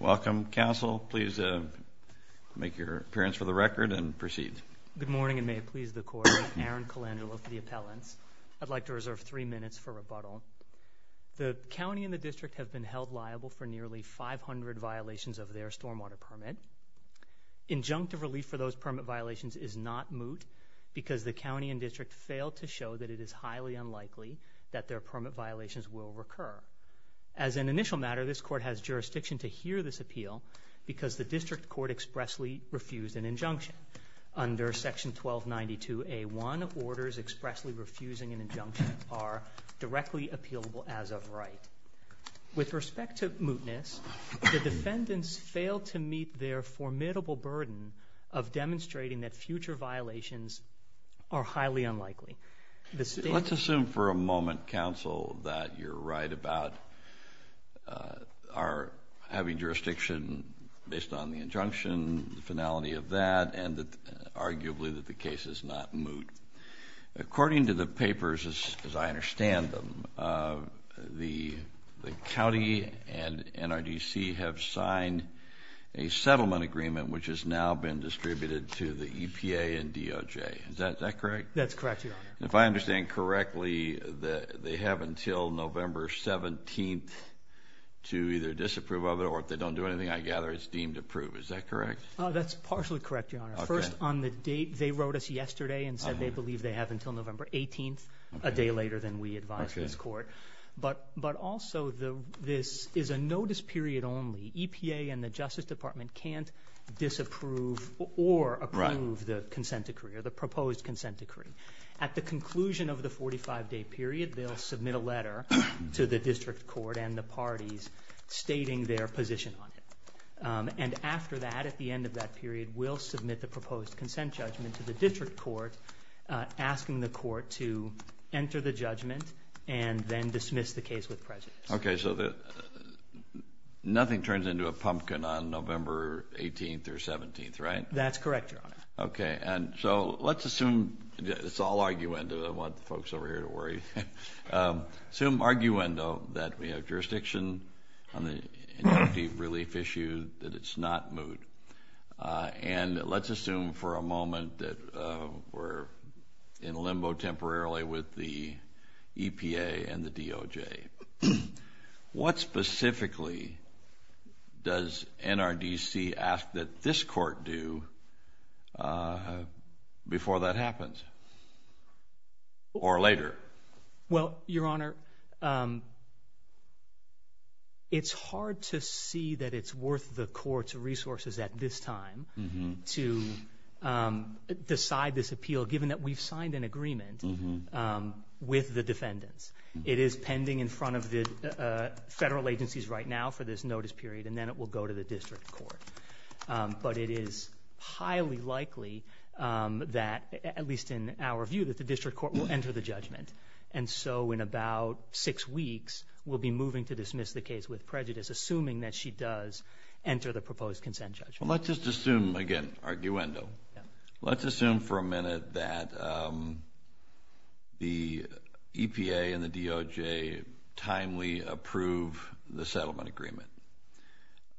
Welcome, Council. Please make your appearance for the record and proceed. Good morning, and may it please the Court. I'm Aaron Colangelo for the Appellants. I'd like to reserve three minutes for rebuttal. The County and the District have been held liable for nearly 500 violations of their stormwater permit. Injunctive relief for those permit violations is not moot because the County and District failed to show that it is highly unlikely that their permit violations will recur. As an initial matter, this Court has jurisdiction to hear this appeal because the District Court expressly refused an injunction. Under Section 1292A1, orders expressly refusing an injunction are directly appealable as of right. With respect to mootness, the defendants failed to meet their formidable burden of demonstrating that future violations are highly unlikely. Let's assume for a moment, Council, that you're right about our having jurisdiction based on the injunction, the finality of that, and arguably that the case is not moot. According to the papers, as I understand them, the County and NRDC have signed a settlement agreement which has now been distributed to the EPA and DOJ. Is that correct? That's correct, Your Honor. If I understand correctly, they have until November 17th to either disapprove of it, or if they don't do anything, I gather it's deemed approved. Is that correct? That's partially correct, Your Honor. First, on the date they wrote us yesterday and said they believe they have until November 18th, a day later than we advised this Court. But also, this is a notice period only. The EPA and the Justice Department can't disapprove or approve the consent decree or the proposed consent decree. At the conclusion of the 45-day period, they'll submit a letter to the District Court and the parties stating their position on it. And after that, at the end of that period, we'll submit the proposed consent judgment to the District Court, asking the Court to enter the judgment and then dismiss the case with prejudice. Okay, so nothing turns into a pumpkin on November 18th or 17th, right? That's correct, Your Honor. Okay, and so let's assume it's all arguendo. I don't want the folks over here to worry. Assume arguendo that we have jurisdiction on the relief issue, that it's not moot. And let's assume for a moment that we're in limbo temporarily with the EPA and the DOJ. What specifically does NRDC ask that this Court do before that happens or later? Well, Your Honor, it's hard to see that it's worth the Court's resources at this time to decide this appeal given that we've signed an agreement with the defendants. It is pending in front of the federal agencies right now for this notice period, and then it will go to the District Court. But it is highly likely that, at least in our view, that the District Court will enter the judgment. And so in about six weeks, we'll be moving to dismiss the case with prejudice, assuming that she does enter the proposed consent judgment. Well, let's just assume, again, arguendo. Let's assume for a minute that the EPA and the DOJ timely approve the settlement agreement.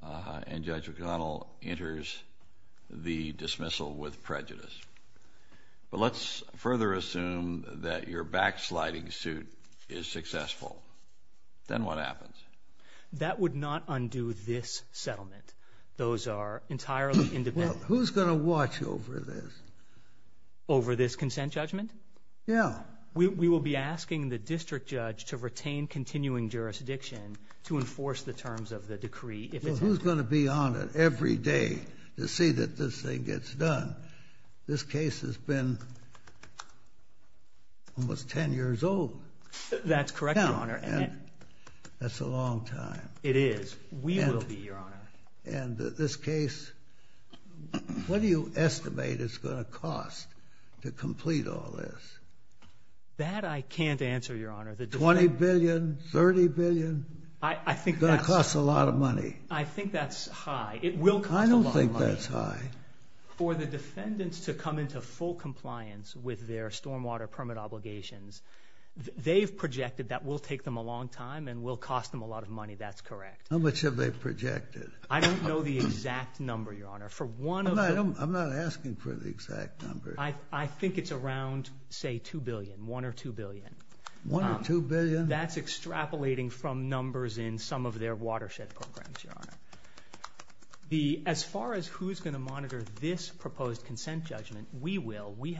And Judge O'Connell enters the dismissal with prejudice. But let's further assume that your backsliding suit is successful. Then what happens? That would not undo this settlement. Those are entirely independent. Well, who's going to watch over this? Over this consent judgment? Yeah. We will be asking the district judge to retain continuing jurisdiction to enforce the terms of the decree. Who's going to be on it every day to see that this thing gets done? This case has been almost 10 years old. That's correct, Your Honor. That's a long time. It is. We will be, Your Honor. And this case, what do you estimate it's going to cost to complete all this? That I can't answer, Your Honor. $20 billion? $30 billion? It's going to cost a lot of money. I think that's high. It will cost a lot of money. I don't think that's high. For the defendants to come into full compliance with their stormwater permit obligations, they've projected that will take them a long time and will cost them a lot of money. That's correct. How much have they projected? I don't know the exact number, Your Honor. I'm not asking for the exact number. I think it's around, say, $2 billion, $1 or $2 billion. $1 or $2 billion? That's extrapolating from numbers in some of their watershed programs, Your Honor. As far as who's going to monitor this proposed consent judgment, we will. in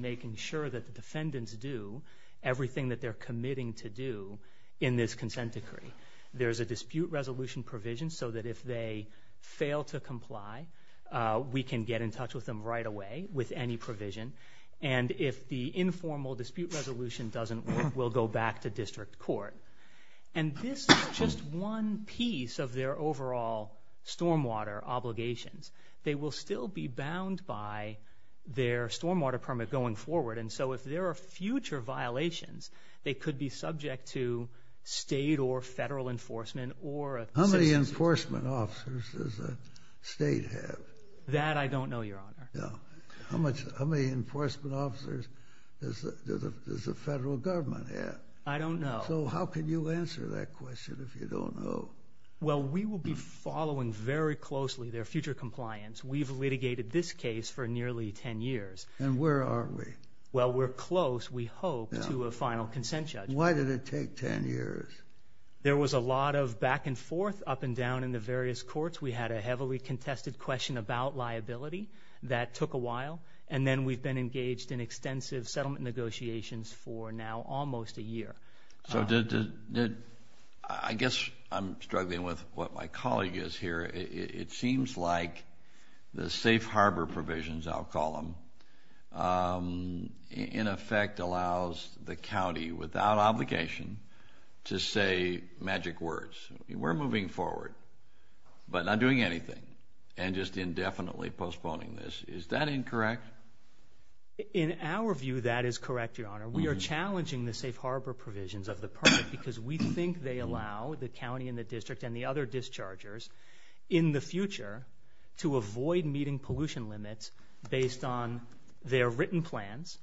making sure that the defendants do everything that they're committing to do in this consent decree. There's a dispute resolution provision so that if they fail to comply, we can get in touch with them right away with any provision. And if the informal dispute resolution doesn't work, we'll go back to district court. And this is just one piece of their overall stormwater obligations. They will still be bound by their stormwater permit going forward. And so if there are future violations, they could be subject to state or federal enforcement or a citizen. How many enforcement officers does the state have? That I don't know, Your Honor. How many enforcement officers does the federal government have? I don't know. So how can you answer that question if you don't know? Well, we will be following very closely their future compliance. We've litigated this case for nearly 10 years. And where are we? Well, we're close, we hope, to a final consent judgment. Why did it take 10 years? There was a lot of back and forth, up and down in the various courts. We had a heavily contested question about liability that took a while. So I guess I'm struggling with what my colleague is here. It seems like the safe harbor provisions, I'll call them, in effect allows the county without obligation to say magic words. We're moving forward, but not doing anything and just indefinitely postponing this. Is that incorrect? In our view, that is correct, Your Honor. We are challenging the safe harbor provisions of the permit because we think they allow the county and the district and the other dischargers in the future to avoid meeting pollution limits based on their written plans,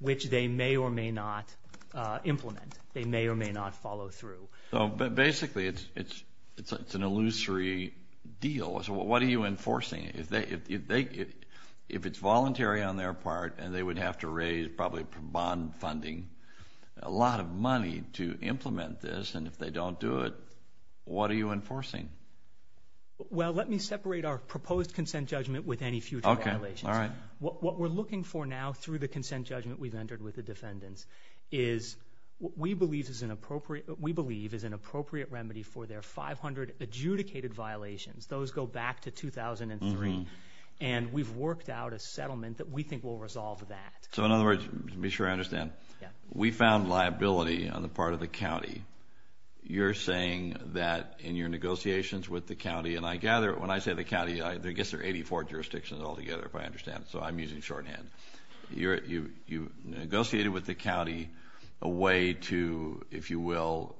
which they may or may not implement. They may or may not follow through. Basically, it's an illusory deal. So what are you enforcing? If it's voluntary on their part and they would have to raise probably bond funding, a lot of money to implement this, and if they don't do it, what are you enforcing? Well, let me separate our proposed consent judgment with any future violations. What we're looking for now through the consent judgment we've entered with the defendants is what we believe is an appropriate remedy for their 500 adjudicated violations. Those go back to 2003, and we've worked out a settlement that we think will resolve that. So in other words, to be sure I understand, we found liability on the part of the county. You're saying that in your negotiations with the county, and I gather when I say the county, I guess there are 84 jurisdictions altogether, if I understand, so I'm using shorthand. You negotiated with the county a way to, if you will,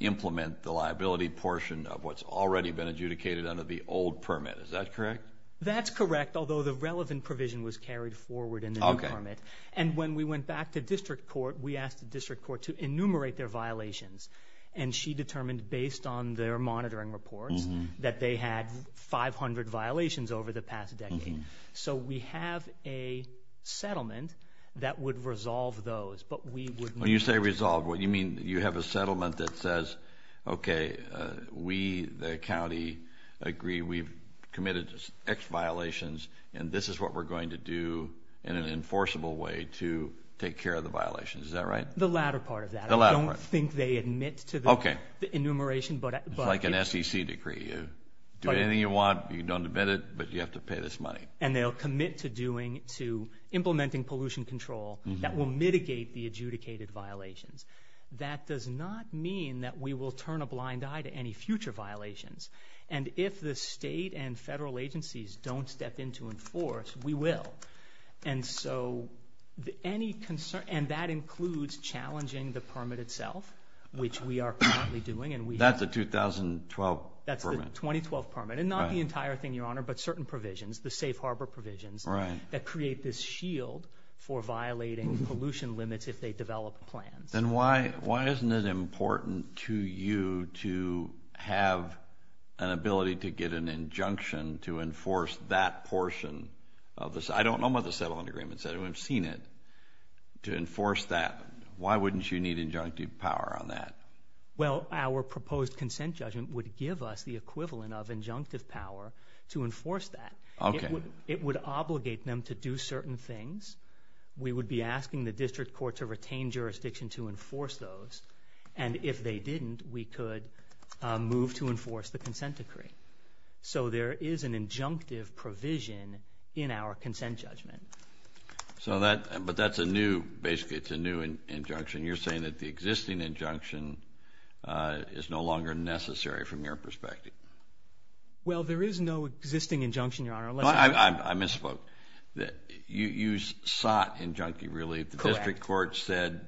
implement the liability portion of what's already been adjudicated under the old permit. Is that correct? That's correct, although the relevant provision was carried forward in the new permit. And when we went back to district court, we asked the district court to enumerate their violations, and she determined based on their monitoring reports that they had 500 violations over the past decade. So we have a settlement that would resolve those. When you say resolve, what do you mean? You have a settlement that says, okay, we, the county, agree we've committed X violations, and this is what we're going to do in an enforceable way to take care of the violations. Is that right? The latter part of that. I don't think they admit to the enumeration. It's like an SEC decree. You do anything you want, you don't admit it, but you have to pay this money. And they'll commit to implementing pollution control that will mitigate the adjudicated violations. That does not mean that we will turn a blind eye to any future violations. And if the state and federal agencies don't step in to enforce, we will. And so any concern, and that includes challenging the permit itself, which we are currently doing. That's the 2012 permit. That's the 2012 permit. And not the entire thing, Your Honor, but certain provisions, the safe harbor provisions, that create this shield for violating pollution limits if they develop plans. Then why isn't it important to you to have an ability to get an injunction to enforce that portion of this? I don't know about the settlement agreements. I haven't seen it. To enforce that, why wouldn't you need injunctive power on that? Well, our proposed consent judgment would give us the equivalent of injunctive power to enforce that. Okay. It would obligate them to do certain things. We would be asking the district court to retain jurisdiction to enforce those. And if they didn't, we could move to enforce the consent decree. So there is an injunctive provision in our consent judgment. So that, but that's a new, basically it's a new injunction. You're saying that the existing injunction is no longer necessary from your perspective. Well, there is no existing injunction, Your Honor. I misspoke. You sought injunctive relief. Correct. The district court said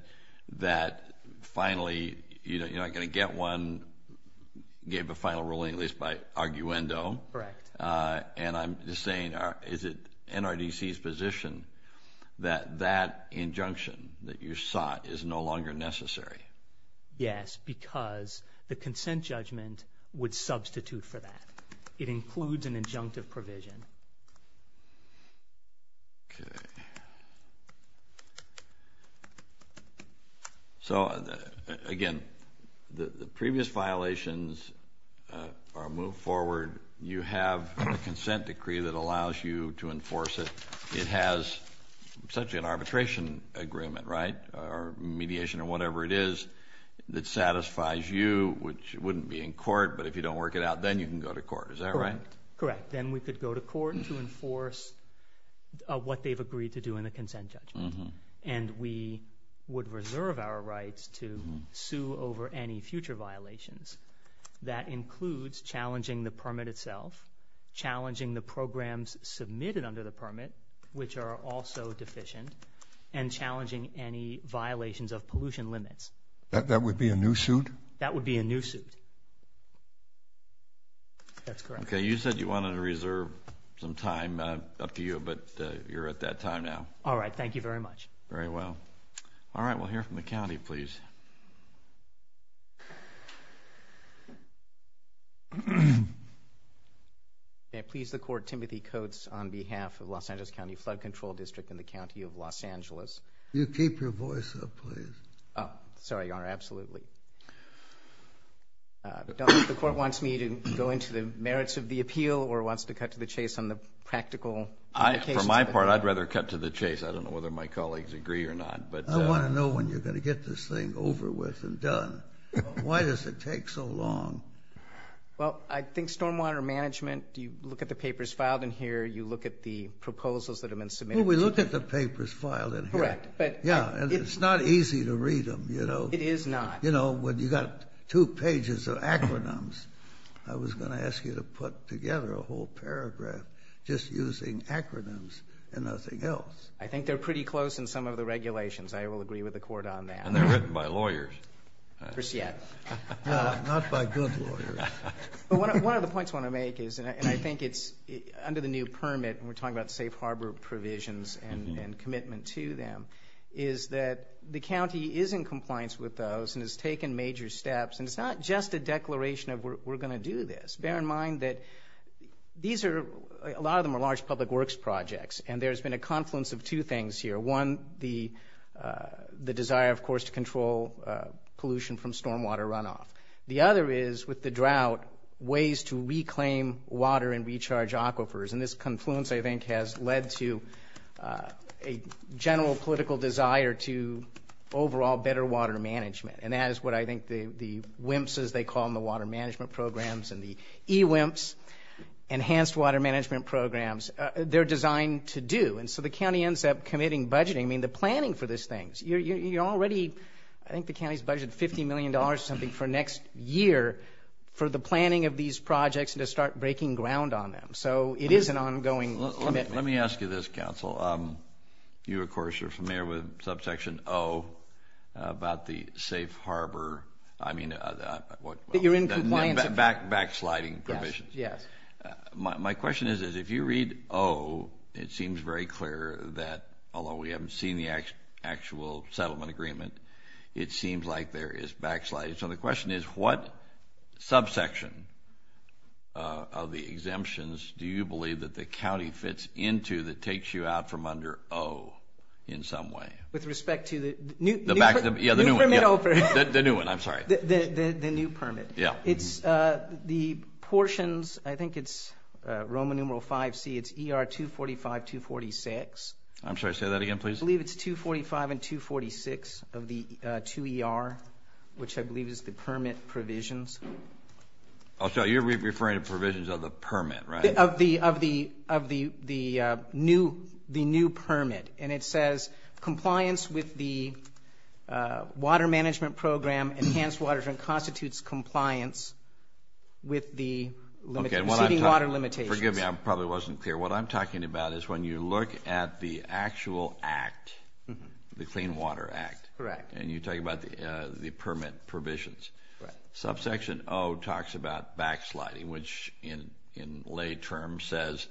that finally you're not going to get one, gave a final ruling at least by arguendo. Correct. And I'm just saying, is it NRDC's position that that injunction that you sought is no longer necessary? Yes, because the consent judgment would substitute for that. It includes an injunctive provision. Okay. So, again, the previous violations are moved forward. You have a consent decree that allows you to enforce it. It has such an arbitration agreement, right, or mediation or whatever it is that satisfies you, which wouldn't be in court. But if you don't work it out, then you can go to court. Is that right? Correct. Then we could go to court to enforce what they've agreed to do in the consent judgment, and we would reserve our rights to sue over any future violations. That includes challenging the permit itself, challenging the programs submitted under the permit, which are also deficient, and challenging any violations of pollution limits. That would be a new suit? That would be a new suit. That's correct. Okay. You said you wanted to reserve some time. Up to you, but you're at that time now. All right. Thank you very much. Very well. All right. We'll hear from the county, please. May it please the Court, Timothy Coates on behalf of Los Angeles County Flood Control District and the County of Los Angeles. Will you keep your voice up, please? Sorry, Your Honor. Absolutely. The Court wants me to go into the merits of the appeal or wants to cut to the chase on the practical implications? For my part, I'd rather cut to the chase. I don't know whether my colleagues agree or not. I want to know when you're going to get this thing over with and done. Why does it take so long? Well, I think stormwater management, you look at the papers filed in here, you look at the proposals that have been submitted. Well, we look at the papers filed in here. Correct. Yeah, and it's not easy to read them, you know. It is not. You know, when you've got two pages of acronyms, I was going to ask you to put together a whole paragraph just using acronyms and nothing else. I think they're pretty close in some of the regulations. I will agree with the Court on that. And they're written by lawyers. Not by good lawyers. One of the points I want to make is, and I think it's under the new permit, and we're talking about safe harbor provisions and commitment to them, is that the county is in compliance with those and has taken major steps. And it's not just a declaration of we're going to do this. Bear in mind that these are, a lot of them are large public works projects, and there's been a confluence of two things here. One, the desire, of course, to control pollution from stormwater runoff. The other is, with the drought, ways to reclaim water and recharge aquifers. And this confluence, I think, has led to a general political desire to overall better water management. And that is what I think the WIMPs, as they call them, the Water Management Programs, and the eWIMPs, Enhanced Water Management Programs, they're designed to do. And so the county ends up committing budgeting. I mean, the planning for these things. You're already, I think the county's budgeted $50 million or something for next year for the planning of these projects and to start breaking ground on them. So it is an ongoing commitment. Let me ask you this, counsel. You, of course, are familiar with subsection O about the safe harbor, I mean, the backsliding provisions. Yes, yes. My question is, if you read O, it seems very clear that, although we haven't seen the actual settlement agreement, it seems like there is backsliding. So the question is, what subsection of the exemptions do you believe that the county fits into that takes you out from under O in some way? With respect to the new permit. The new one, I'm sorry. The new permit. Yeah. It's the portions, I think it's Roman numeral 5C, it's ER 245, 246. I'm sorry, say that again, please. I believe it's 245 and 246 of the 2ER, which I believe is the permit provisions. Oh, so you're referring to provisions of the permit, right? Of the new permit. And it says, compliance with the water management program, enhanced water management constitutes compliance with the receiving water limitations. Forgive me, I probably wasn't clear. What I'm talking about is when you look at the actual act, the Clean Water Act. Correct. And you talk about the permit provisions. Right. Subsection O talks about backsliding, which in lay terms says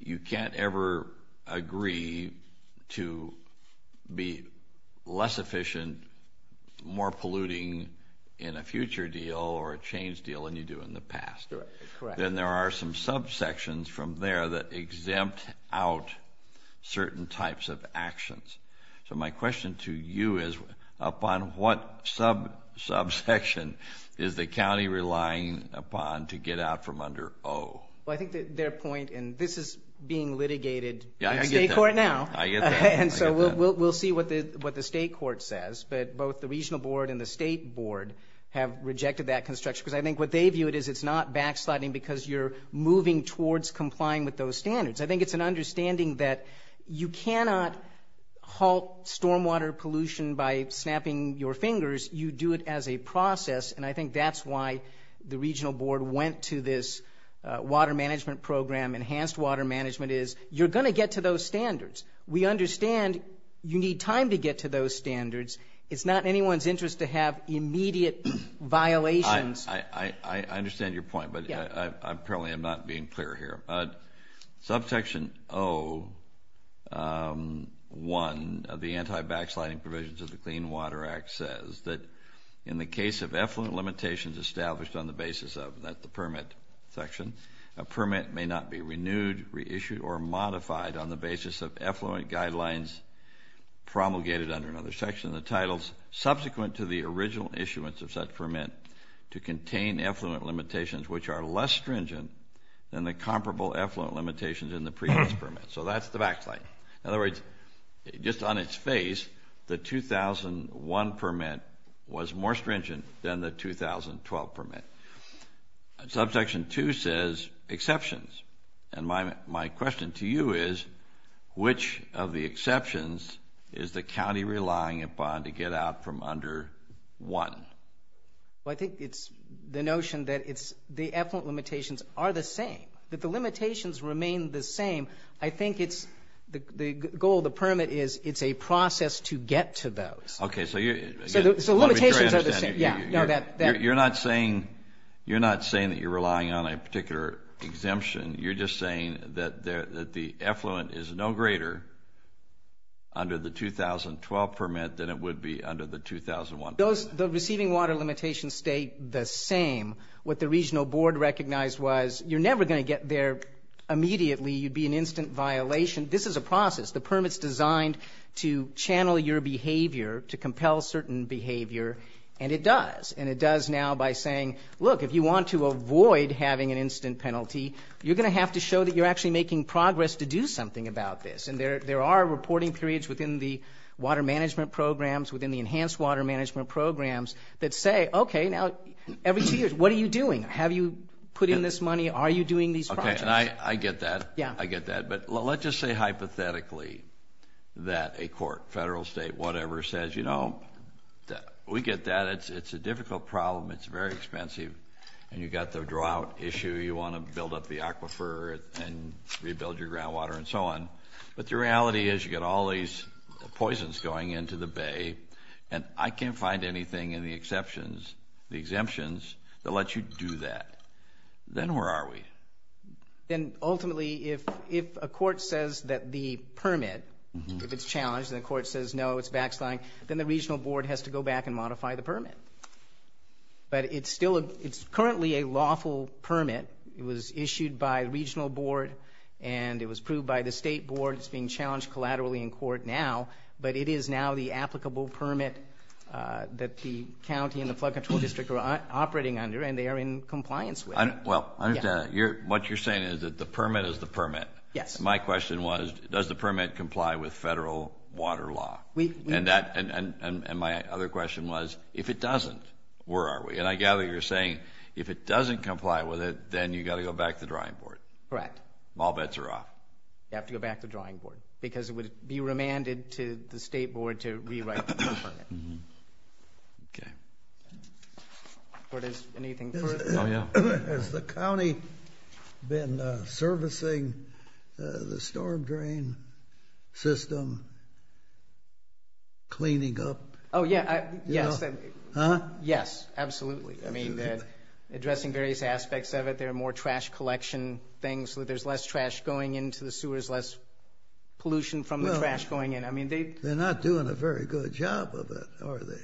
you can't ever agree to be less efficient, more polluting in a future deal or a changed deal than you do in the past. Correct. Then there are some subsections from there that exempt out certain types of actions. So my question to you is, upon what subsection is the county relying upon to get out from under O? Well, I think their point, and this is being litigated in state court now. Yeah, I get that. I get that. And so we'll see what the state court says, but both the regional board and the state board have rejected that construction. Because I think what they view it as, it's not backsliding because you're moving towards complying with those standards. I think it's an understanding that you cannot halt stormwater pollution by snapping your fingers. You do it as a process, and I think that's why the regional board went to this water management program. Enhanced water management is you're going to get to those standards. We understand you need time to get to those standards. It's not in anyone's interest to have immediate violations. I understand your point, but apparently I'm not being clear here. Subsection O-1 of the anti-backsliding provisions of the Clean Water Act says that in the case of effluent limitations established on the basis of the permit section, a permit may not be renewed, reissued, or modified on the basis of effluent guidelines promulgated under another section of the titles subsequent to the original issuance of such permit to contain effluent limitations, which are less stringent than the comparable effluent limitations in the previous permit. So that's the backslide. In other words, just on its face, the 2001 permit was more stringent than the 2012 permit. Subsection 2 says exceptions. And my question to you is, which of the exceptions is the county relying upon to get out from under 1? Well, I think it's the notion that it's the effluent limitations are the same, that the limitations remain the same. I think it's the goal of the permit is it's a process to get to those. Okay. So the limitations are the same. You're not saying that you're relying on a particular exemption. You're just saying that the effluent is no greater under the 2012 permit than it would be under the 2001 permit. The receiving water limitations stay the same. What the regional board recognized was you're never going to get there immediately. You'd be an instant violation. This is a process. The permit's designed to channel your behavior, to compel certain behavior. And it does. And it does now by saying, look, if you want to avoid having an instant penalty, you're going to have to show that you're actually making progress to do something about this. And there are reporting periods within the water management programs, within the enhanced water management programs, that say, okay, now every two years, what are you doing? Have you put in this money? Are you doing these projects? Okay, and I get that. Yeah. I get that. But let's just say hypothetically that a court, federal, state, whatever, says, you know, we get that. It's a difficult problem. It's very expensive. And you've got the drought issue. You want to build up the aquifer and rebuild your groundwater and so on. But the reality is you've got all these poisons going into the bay, and I can't find anything in the exemptions that lets you do that. Then where are we? Then ultimately, if a court says that the permit, if it's challenged, and the court says, no, it's backsliding, then the regional board has to go back and modify the permit. But it's currently a lawful permit. It was issued by the regional board, and it was approved by the state board. It's being challenged collaterally in court now. But it is now the applicable permit that the county and the flood control district are operating under, and they are in compliance with. Well, what you're saying is that the permit is the permit. Yes. My question was, does the permit comply with federal water law? And my other question was, if it doesn't, where are we? And I gather you're saying if it doesn't comply with it, then you've got to go back to the drawing board. Correct. All bets are off. You have to go back to the drawing board because it would be remanded to the state board to rewrite the permit. Okay. Lord, is anything further? No, no. Has the county been servicing the storm drain system, cleaning up? Oh, yeah. Yes. Huh? Yes, absolutely. I mean, addressing various aspects of it. There are more trash collection things. There's less trash going into the sewers, less pollution from the trash going in. They're not doing a very good job of it, are they?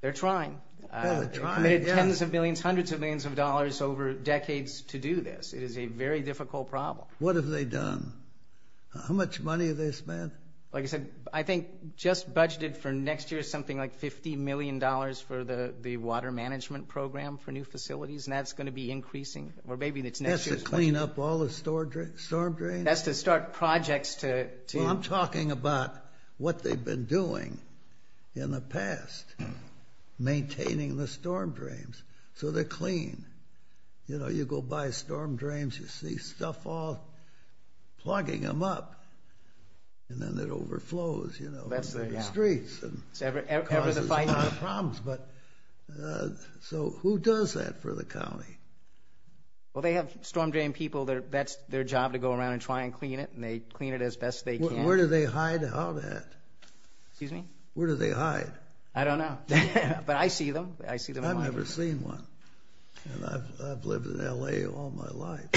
They're trying. They're trying, yeah. They've committed tens of millions, hundreds of millions of dollars over decades to do this. It is a very difficult problem. What have they done? How much money have they spent? Like I said, I think just budgeted for next year is something like $50 million for the water management program for new facilities, and that's going to be increasing, or maybe it's next year's budget. That's to clean up all the storm drains? That's to start projects to – Well, I'm talking about what they've been doing in the past, maintaining the storm drains so they're clean. You know, you go buy storm drains, you see stuff all plugging them up, and then it overflows, you know, into the streets and causes a lot of problems. Well, they have storm drain people. That's their job to go around and try and clean it, and they clean it as best they can. Where do they hide out at? Excuse me? Where do they hide? I don't know. But I see them. I've never seen one, and I've lived in L.A. all my life,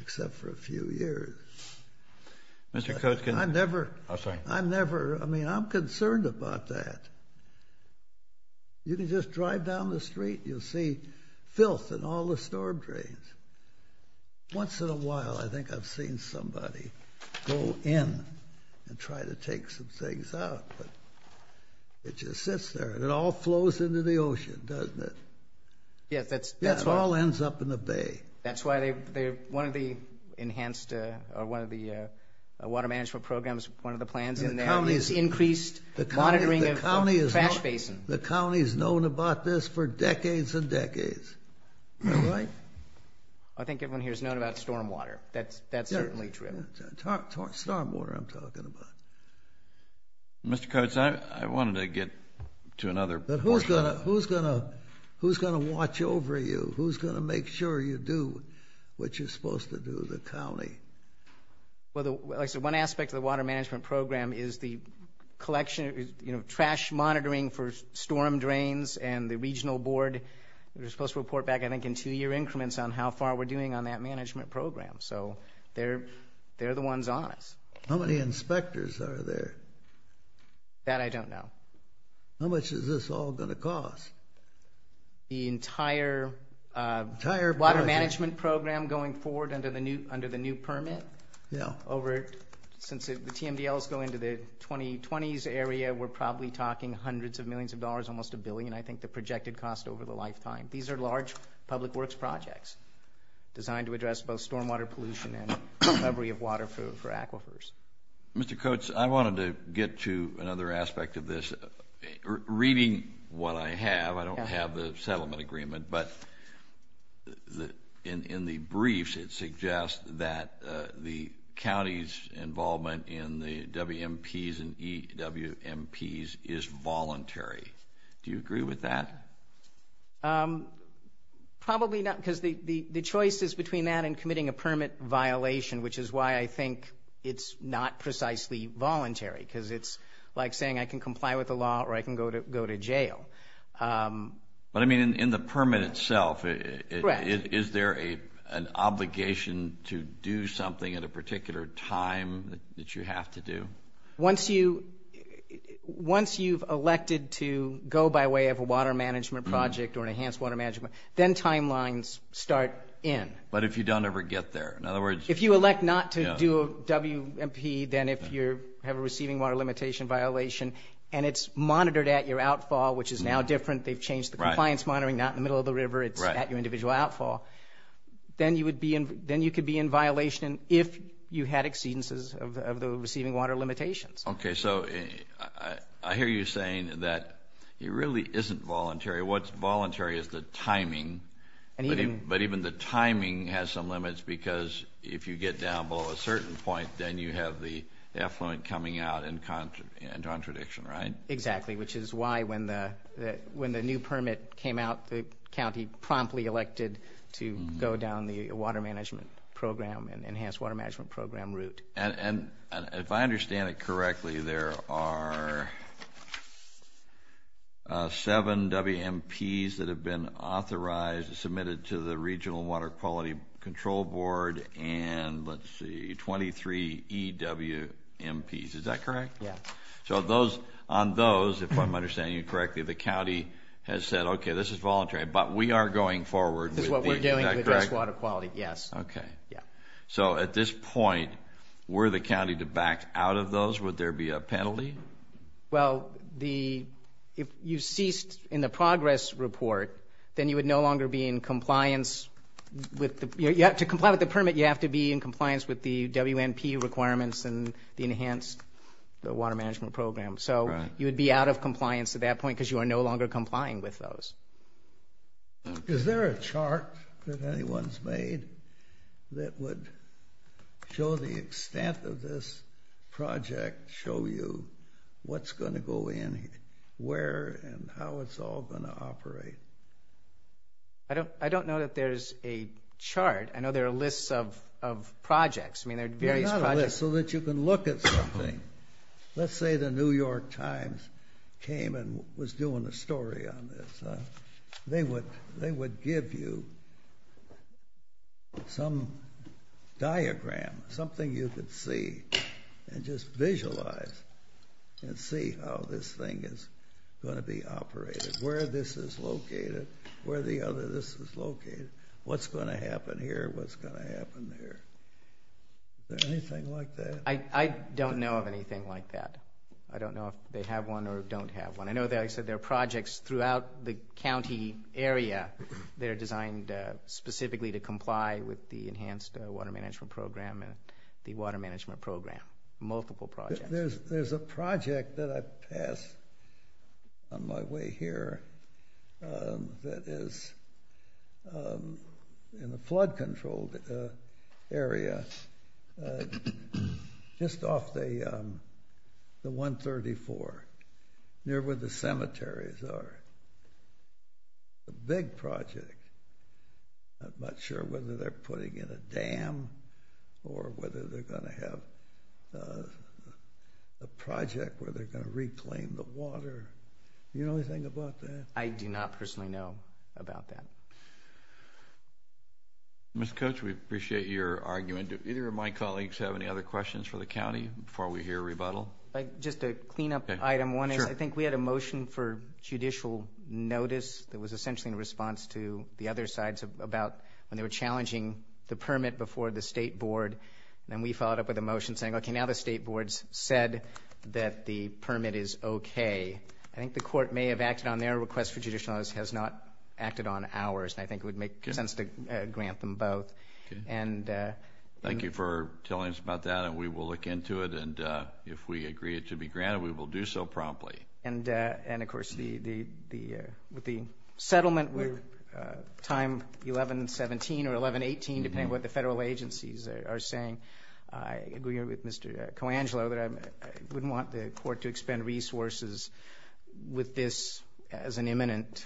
except for a few years. I'm never – I mean, I'm concerned about that. You can just drive down the street, and you'll see filth in all the storm drains. Once in a while, I think I've seen somebody go in and try to take some things out, but it just sits there, and it all flows into the ocean, doesn't it? Yeah, that's why – Yeah, it all ends up in the bay. That's why one of the enhanced – or one of the water management programs, one of the plans in there is increased monitoring of – Trash basin. The county has known about this for decades and decades, right? I think everyone here has known about stormwater. That's certainly true. Stormwater I'm talking about. Mr. Coates, I wanted to get to another portion. Who's going to watch over you? Who's going to make sure you do what you're supposed to do, the county? Well, like I said, one aspect of the water management program is the collection – you know, trash monitoring for storm drains and the regional board. We're supposed to report back, I think, in two-year increments on how far we're doing on that management program. So they're the ones on us. How many inspectors are there? That I don't know. How much is this all going to cost? The entire water management program going forward under the new permit over – since the TMDLs go into the 2020s area, we're probably talking hundreds of millions of dollars, almost a billion, I think, the projected cost over the lifetime. These are large public works projects designed to address both stormwater pollution and recovery of water for aquifers. Mr. Coates, I wanted to get to another aspect of this. Reading what I have, I don't have the settlement agreement, but in the briefs it suggests that the county's involvement in the WMPs and EWMPs is voluntary. Do you agree with that? Probably not, because the choice is between that and committing a permit violation, which is why I think it's not precisely voluntary, because it's like saying I can comply with the law or I can go to jail. But, I mean, in the permit itself, is there an obligation to do something at a particular time that you have to do? Once you've elected to go by way of a water management project or an enhanced water management, then timelines start in. But if you don't ever get there? If you elect not to do a WMP, then you have a receiving water limitation violation, and it's monitored at your outfall, which is now different. They've changed the compliance monitoring, not in the middle of the river. It's at your individual outfall. Then you could be in violation if you had exceedances of the receiving water limitations. Okay, so I hear you saying that it really isn't voluntary. What's voluntary is the timing. But even the timing has some limits, because if you get down below a certain point, then you have the affluent coming out in contradiction, right? Exactly, which is why when the new permit came out, the county promptly elected to go down the water management program and enhanced water management program route. And if I understand it correctly, there are seven WMPs that have been authorized, submitted to the Regional Water Quality Control Board, and, let's see, 23 EWMPs. Is that correct? Yeah. So on those, if I'm understanding you correctly, the county has said, okay, this is voluntary, but we are going forward. This is what we're doing to address water quality, yes. Okay. Yeah. So at this point, were the county to back out of those, would there be a penalty? Well, if you ceased in the progress report, then you would no longer be in compliance. To comply with the permit, you have to be in compliance with the WMP requirements and the enhanced water management program. So you would be out of compliance at that point, because you are no longer complying with those. Is there a chart that anyone's made that would show the extent of this project, show you what's going to go in, where, and how it's all going to operate? I don't know that there's a chart. I know there are lists of projects. I mean, there are various projects. So that you can look at something. Let's say the New York Times came and was doing a story on this. They would give you some diagram, something you could see, and just visualize and see how this thing is going to be operated, where this is located, where the other of this is located, what's going to happen here, what's going to happen there. Is there anything like that? I don't know of anything like that. I don't know if they have one or don't have one. I know, like I said, there are projects throughout the county area that are designed specifically to comply with the enhanced water management program and the water management program, multiple projects. There's a project that I passed on my way here that is in a flood-controlled area just off the 134, near where the cemeteries are. A big project. I'm not sure whether they're putting in a dam or whether they're going to have a project where they're going to reclaim the water. Do you know anything about that? I do not personally know about that. Mr. Coach, we appreciate your argument. Do either of my colleagues have any other questions for the county before we hear a rebuttal? Just a cleanup item. One is I think we had a motion for judicial notice that was essentially in response to the other sides about when they were challenging the permit before the state board, and then we followed up with a motion saying, okay, now the state board's said that the permit is okay. I think the court may have acted on their request for judicial notice, has not acted on ours, and I think it would make sense to grant them both. Thank you for telling us about that, and we will look into it, and if we agree it to be granted, we will do so promptly. And, of course, with the settlement with time 11-17 or 11-18, depending on what the federal agencies are saying, I agree with Mr. Coangelo that I wouldn't want the court to expend resources with this as an imminent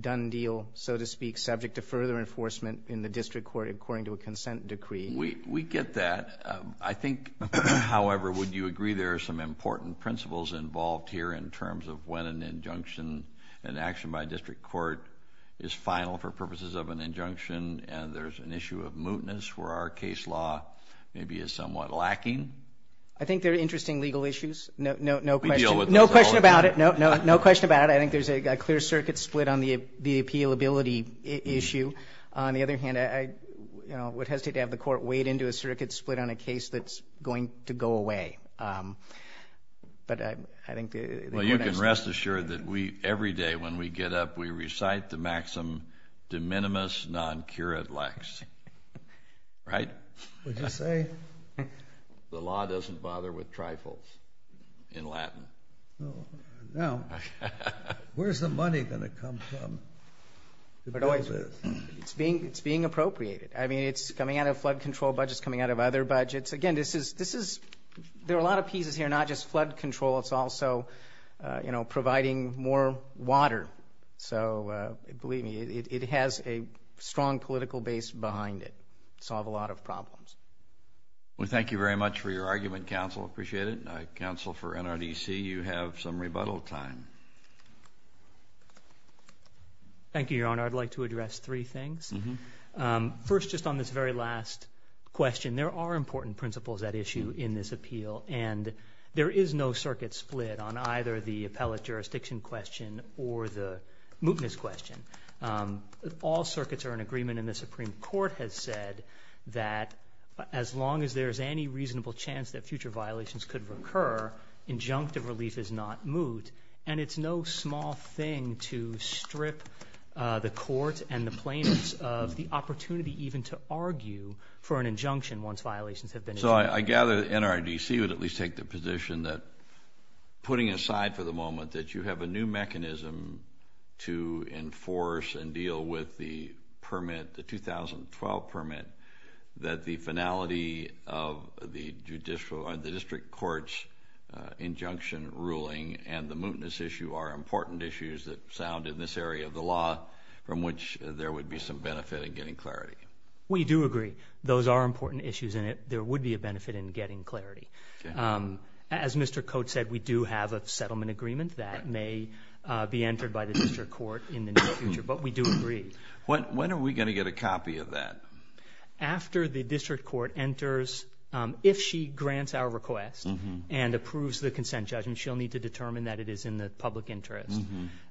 done deal, so to speak, subject to further enforcement in the district court according to a consent decree. We get that. I think, however, would you agree there are some important principles involved here in terms of when an injunction, an action by a district court, is final for purposes of an injunction, and there's an issue of mootness where our case law maybe is somewhat lacking? I think they're interesting legal issues. No question about it. No question about it. I think there's a clear circuit split on the appealability issue. On the other hand, I would hesitate to have the court wade into a circuit split on a case that's going to go away. You can rest assured that every day when we get up, we recite the maxim de minimis non curat lex, right? Would you say? The law doesn't bother with trifles in Latin. Now, where's the money going to come from to do this? It's being appropriated. I mean, it's coming out of flood control budgets, coming out of other budgets. Again, there are a lot of pieces here, not just flood control. It's also providing more water. So believe me, it has a strong political base behind it to solve a lot of problems. Well, thank you very much for your argument, counsel. Appreciate it. Counsel for NRDC, you have some rebuttal time. Thank you, Your Honor. I'd like to address three things. First, just on this very last question, there are important principles at issue in this appeal, and there is no circuit split on either the appellate jurisdiction question or the mootness question. All circuits are in agreement, and the Supreme Court has said that as long as there is any reasonable chance that future violations could recur, injunctive relief is not moot, and it's no small thing to strip the court and the plaintiffs of the opportunity even to argue for an injunction once violations have been issued. So I gather NRDC would at least take the position that, putting aside for the moment that you have a new mechanism to enforce and deal with the permit, the 2012 permit, that the finality of the district court's injunction ruling and the mootness issue are important issues that sound in this area of the law from which there would be some benefit in getting clarity. We do agree those are important issues, and there would be a benefit in getting clarity. As Mr. Coates said, we do have a settlement agreement that may be entered by the district court in the near future, but we do agree. When are we going to get a copy of that? After the district court enters, if she grants our request and approves the consent judgment, she'll need to determine that it is in the public interest.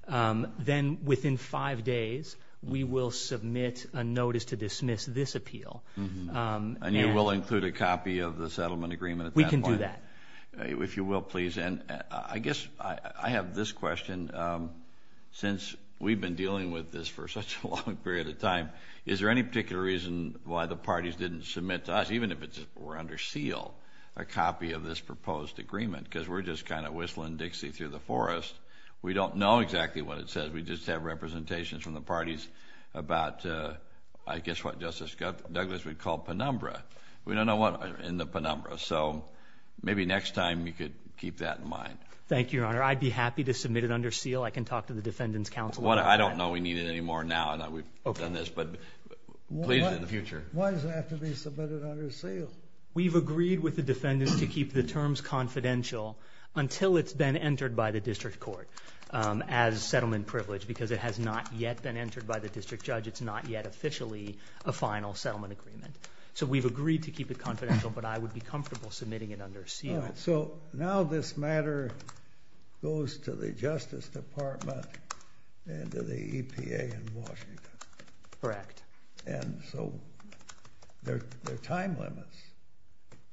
Then within five days, we will submit a notice to dismiss this appeal. And you will include a copy of the settlement agreement at that point? We can do that. If you will, please. And I guess I have this question. Since we've been dealing with this for such a long period of time, is there any particular reason why the parties didn't submit to us, even if it were under seal, a copy of this proposed agreement? Because we're just kind of whistling Dixie through the forest. We don't know exactly what it says. We just have representations from the parties about, I guess, what Justice Douglas would call penumbra. We don't know what's in the penumbra. So maybe next time you could keep that in mind. Thank you, Your Honor. I'd be happy to submit it under seal. I can talk to the defendants' counsel about that. I don't know we need it anymore now that we've done this, but please in the future. Why does it have to be submitted under seal? We've agreed with the defendants to keep the terms confidential until it's been entered by the district court as settlement privilege because it has not yet been entered by the district judge. It's not yet officially a final settlement agreement. So we've agreed to keep it confidential, but I would be comfortable submitting it under seal. So now this matter goes to the Justice Department and to the EPA in Washington. Correct. And so there are time limits,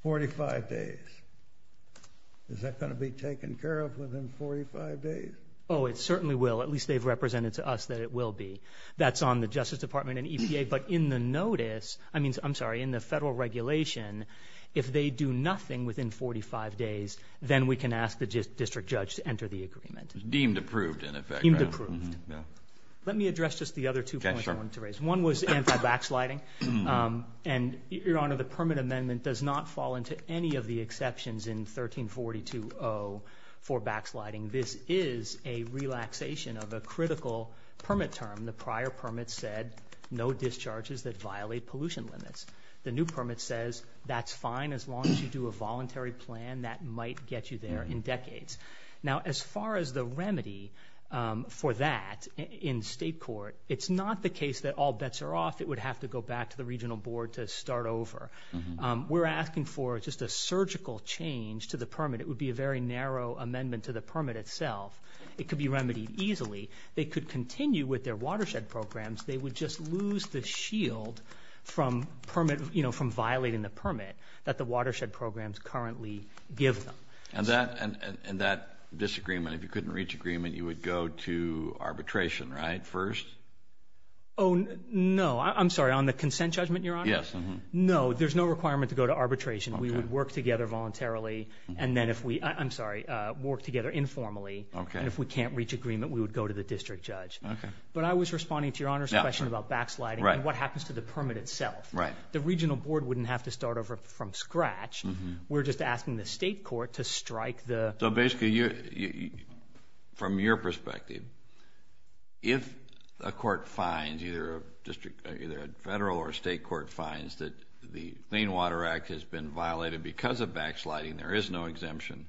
45 days. Is that going to be taken care of within 45 days? Oh, it certainly will. At least they've represented to us that it will be. That's on the Justice Department and EPA. But in the notice, I'm sorry, in the federal regulation, if they do nothing within 45 days, then we can ask the district judge to enter the agreement. Deemed approved, in effect. Deemed approved. Let me address just the other two points I wanted to raise. One was anti-backsliding. And, Your Honor, the permit amendment does not fall into any of the exceptions in 1342-0 for backsliding. This is a relaxation of a critical permit term. The prior permit said no discharges that violate pollution limits. The new permit says that's fine as long as you do a voluntary plan. That might get you there in decades. Now, as far as the remedy for that in state court, it's not the case that all bets are off. It would have to go back to the regional board to start over. We're asking for just a surgical change to the permit. It would be a very narrow amendment to the permit itself. It could be remedied easily. They could continue with their watershed programs. They would just lose the shield from violating the permit that the watershed programs currently give them. And that disagreement, if you couldn't reach agreement, you would go to arbitration, right, first? Oh, no. I'm sorry, on the consent judgment, Your Honor? Yes. No, there's no requirement to go to arbitration. We would work together voluntarily. And then if we – I'm sorry, work together informally. Okay. And if we can't reach agreement, we would go to the district judge. Okay. But I was responding to Your Honor's question about backsliding and what happens to the permit itself. Right. The regional board wouldn't have to start over from scratch. We're just asking the state court to strike the – So, basically, from your perspective, if a court finds – either a federal or a state court finds that the Clean Water Act has been violated because of backsliding, there is no exemption,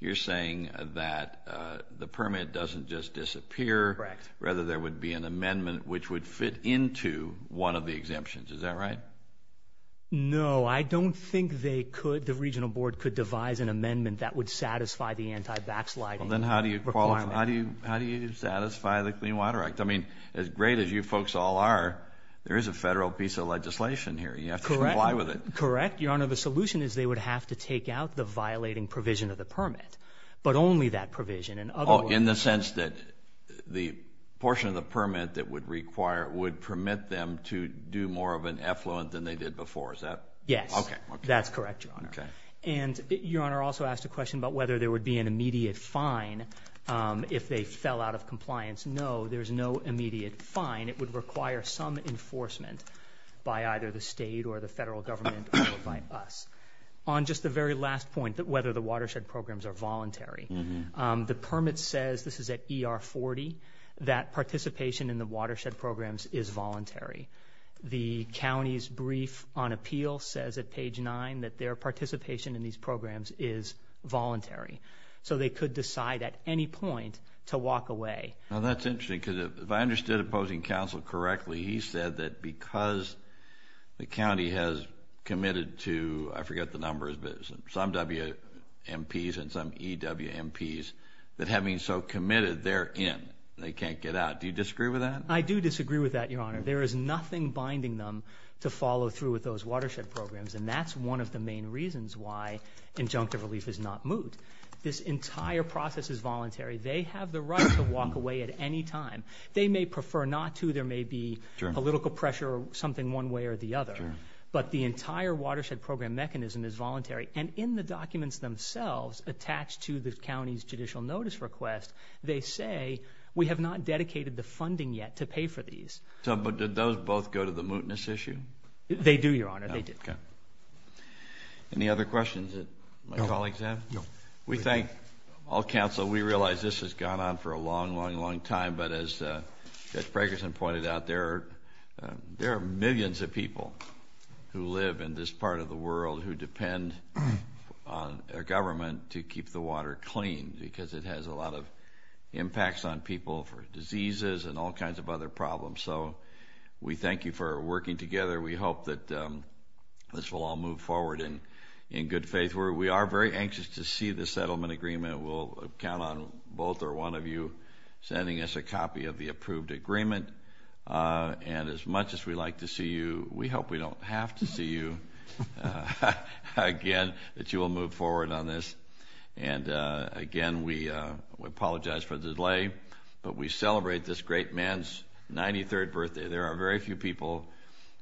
you're saying that the permit doesn't just disappear. Correct. Rather, there would be an amendment which would fit into one of the exemptions. Is that right? No. I don't think they could – the regional board could devise an amendment that would satisfy the anti-backsliding requirement. Well, then how do you satisfy the Clean Water Act? I mean, as great as you folks all are, there is a federal piece of legislation here. You have to comply with it. Correct, Your Honor. The solution is they would have to take out the violating provision of the permit, but only that provision. In the sense that the portion of the permit that would require – would permit them to do more of an effluent than they did before, is that – Yes. Okay. That's correct, Your Honor. Okay. And Your Honor also asked a question about whether there would be an immediate fine if they fell out of compliance. No, there's no immediate fine. It would require some enforcement by either the state or the federal government or by us. On just the very last point, whether the watershed programs are voluntary, the permit says – this is at ER 40 – that participation in the watershed programs is voluntary. The county's brief on appeal says at page 9 that their participation in these programs is voluntary. So they could decide at any point to walk away. Now, that's interesting because if I understood Opposing Counsel correctly, he said that because the county has committed to – I forget the numbers – some WMPs and some EWMPs, that having so committed, they're in. They can't get out. Do you disagree with that? I do disagree with that, Your Honor. There is nothing binding them to follow through with those watershed programs, and that's one of the main reasons why injunctive relief is not moot. This entire process is voluntary. They have the right to walk away at any time. They may prefer not to. There may be political pressure or something one way or the other. But the entire watershed program mechanism is voluntary. And in the documents themselves attached to the county's judicial notice request, they say we have not dedicated the funding yet to pay for these. But did those both go to the mootness issue? They do, Your Honor. They did. Okay. Any other questions that my colleagues have? No. We thank all counsel. We realize this has gone on for a long, long, long time. But as Judge Fragerson pointed out, there are millions of people who live in this part of the world who depend on their government to keep the water clean because it has a lot of impacts on people for diseases and all kinds of other problems. So we thank you for working together. We hope that this will all move forward in good faith. We are very anxious to see the settlement agreement. We'll count on both or one of you sending us a copy of the approved agreement. And as much as we'd like to see you, we hope we don't have to see you again, that you will move forward on this. And, again, we apologize for the delay, but we celebrate this great man's 93rd birthday. There are very few people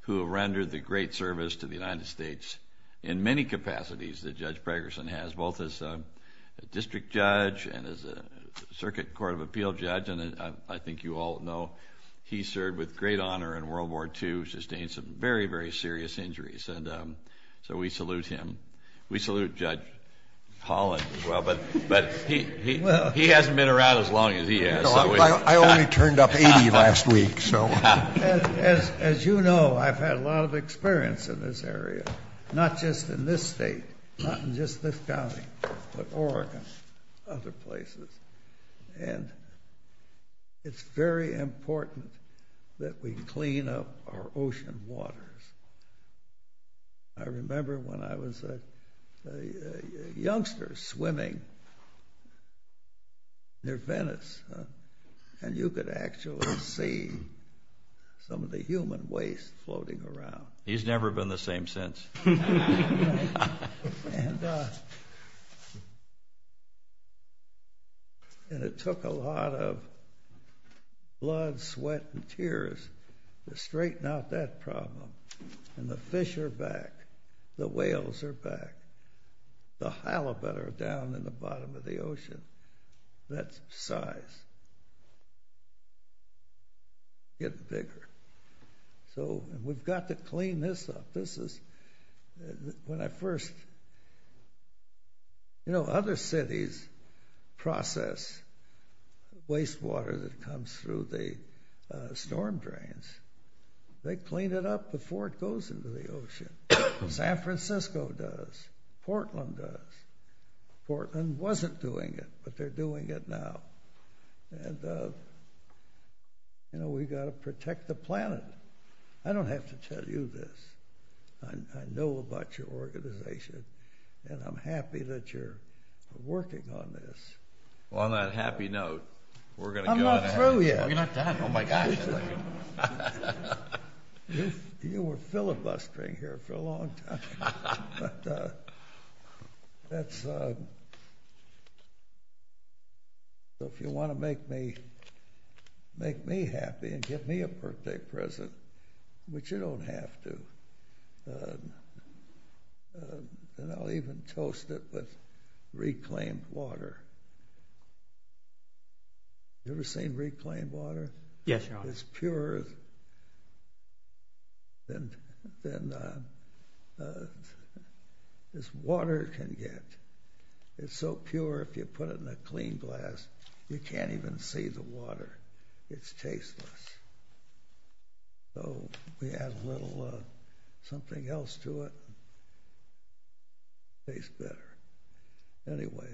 who have rendered the great service to the United States in many capacities that Judge Fragerson has, both as a district judge and as a Circuit Court of Appeal judge. And I think you all know he served with great honor in World War II, sustained some very, very serious injuries. And so we salute him. We salute Judge Holland as well. But he hasn't been around as long as he has. I only turned up 80 last week. As you know, I've had a lot of experience in this area, not just in this state, not in just this county, but Oregon, other places. And it's very important that we clean up our ocean waters. I remember when I was a youngster swimming near Venice, and you could actually see some of the human waste floating around. He's never been the same since. And it took a lot of blood, sweat, and tears to straighten out that problem. And the fish are back. The whales are back. The halibut are down in the bottom of the ocean. That size is getting bigger. So we've got to clean this up. This is when I first— You know, other cities process wastewater that comes through the storm drains. They clean it up before it goes into the ocean. San Francisco does. Portland does. Portland wasn't doing it, but they're doing it now. And, you know, we've got to protect the planet. I don't have to tell you this. I know about your organization, and I'm happy that you're working on this. Well, on that happy note, we're going to go— I'm not through yet. Oh, you're not done? Oh, my gosh. You were filibustering here for a long time. But that's— So if you want to make me happy and give me a birthday present, which you don't have to, then I'll even toast it with reclaimed water. You ever seen reclaimed water? Yes, Your Honor. It's purer than this water can get. It's so pure, if you put it in a clean glass, you can't even see the water. It's tasteless. So we add a little something else to it. It tastes better. Anyway,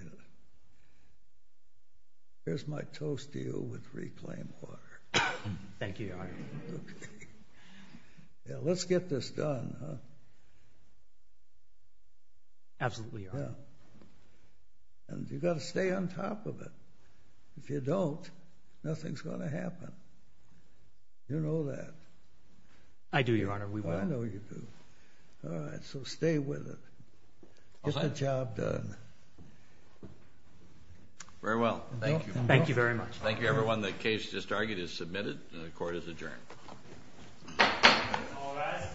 here's my toast to you with reclaimed water. Thank you, Your Honor. Yeah, let's get this done, huh? Absolutely, Your Honor. And you've got to stay on top of it. If you don't, nothing's going to happen. You know that. I do, Your Honor, we will. I know you do. All right, so stay with it. Get the job done. Very well. Thank you. Thank you very much. Thank you, everyone. The case just argued is submitted and the court is adjourned.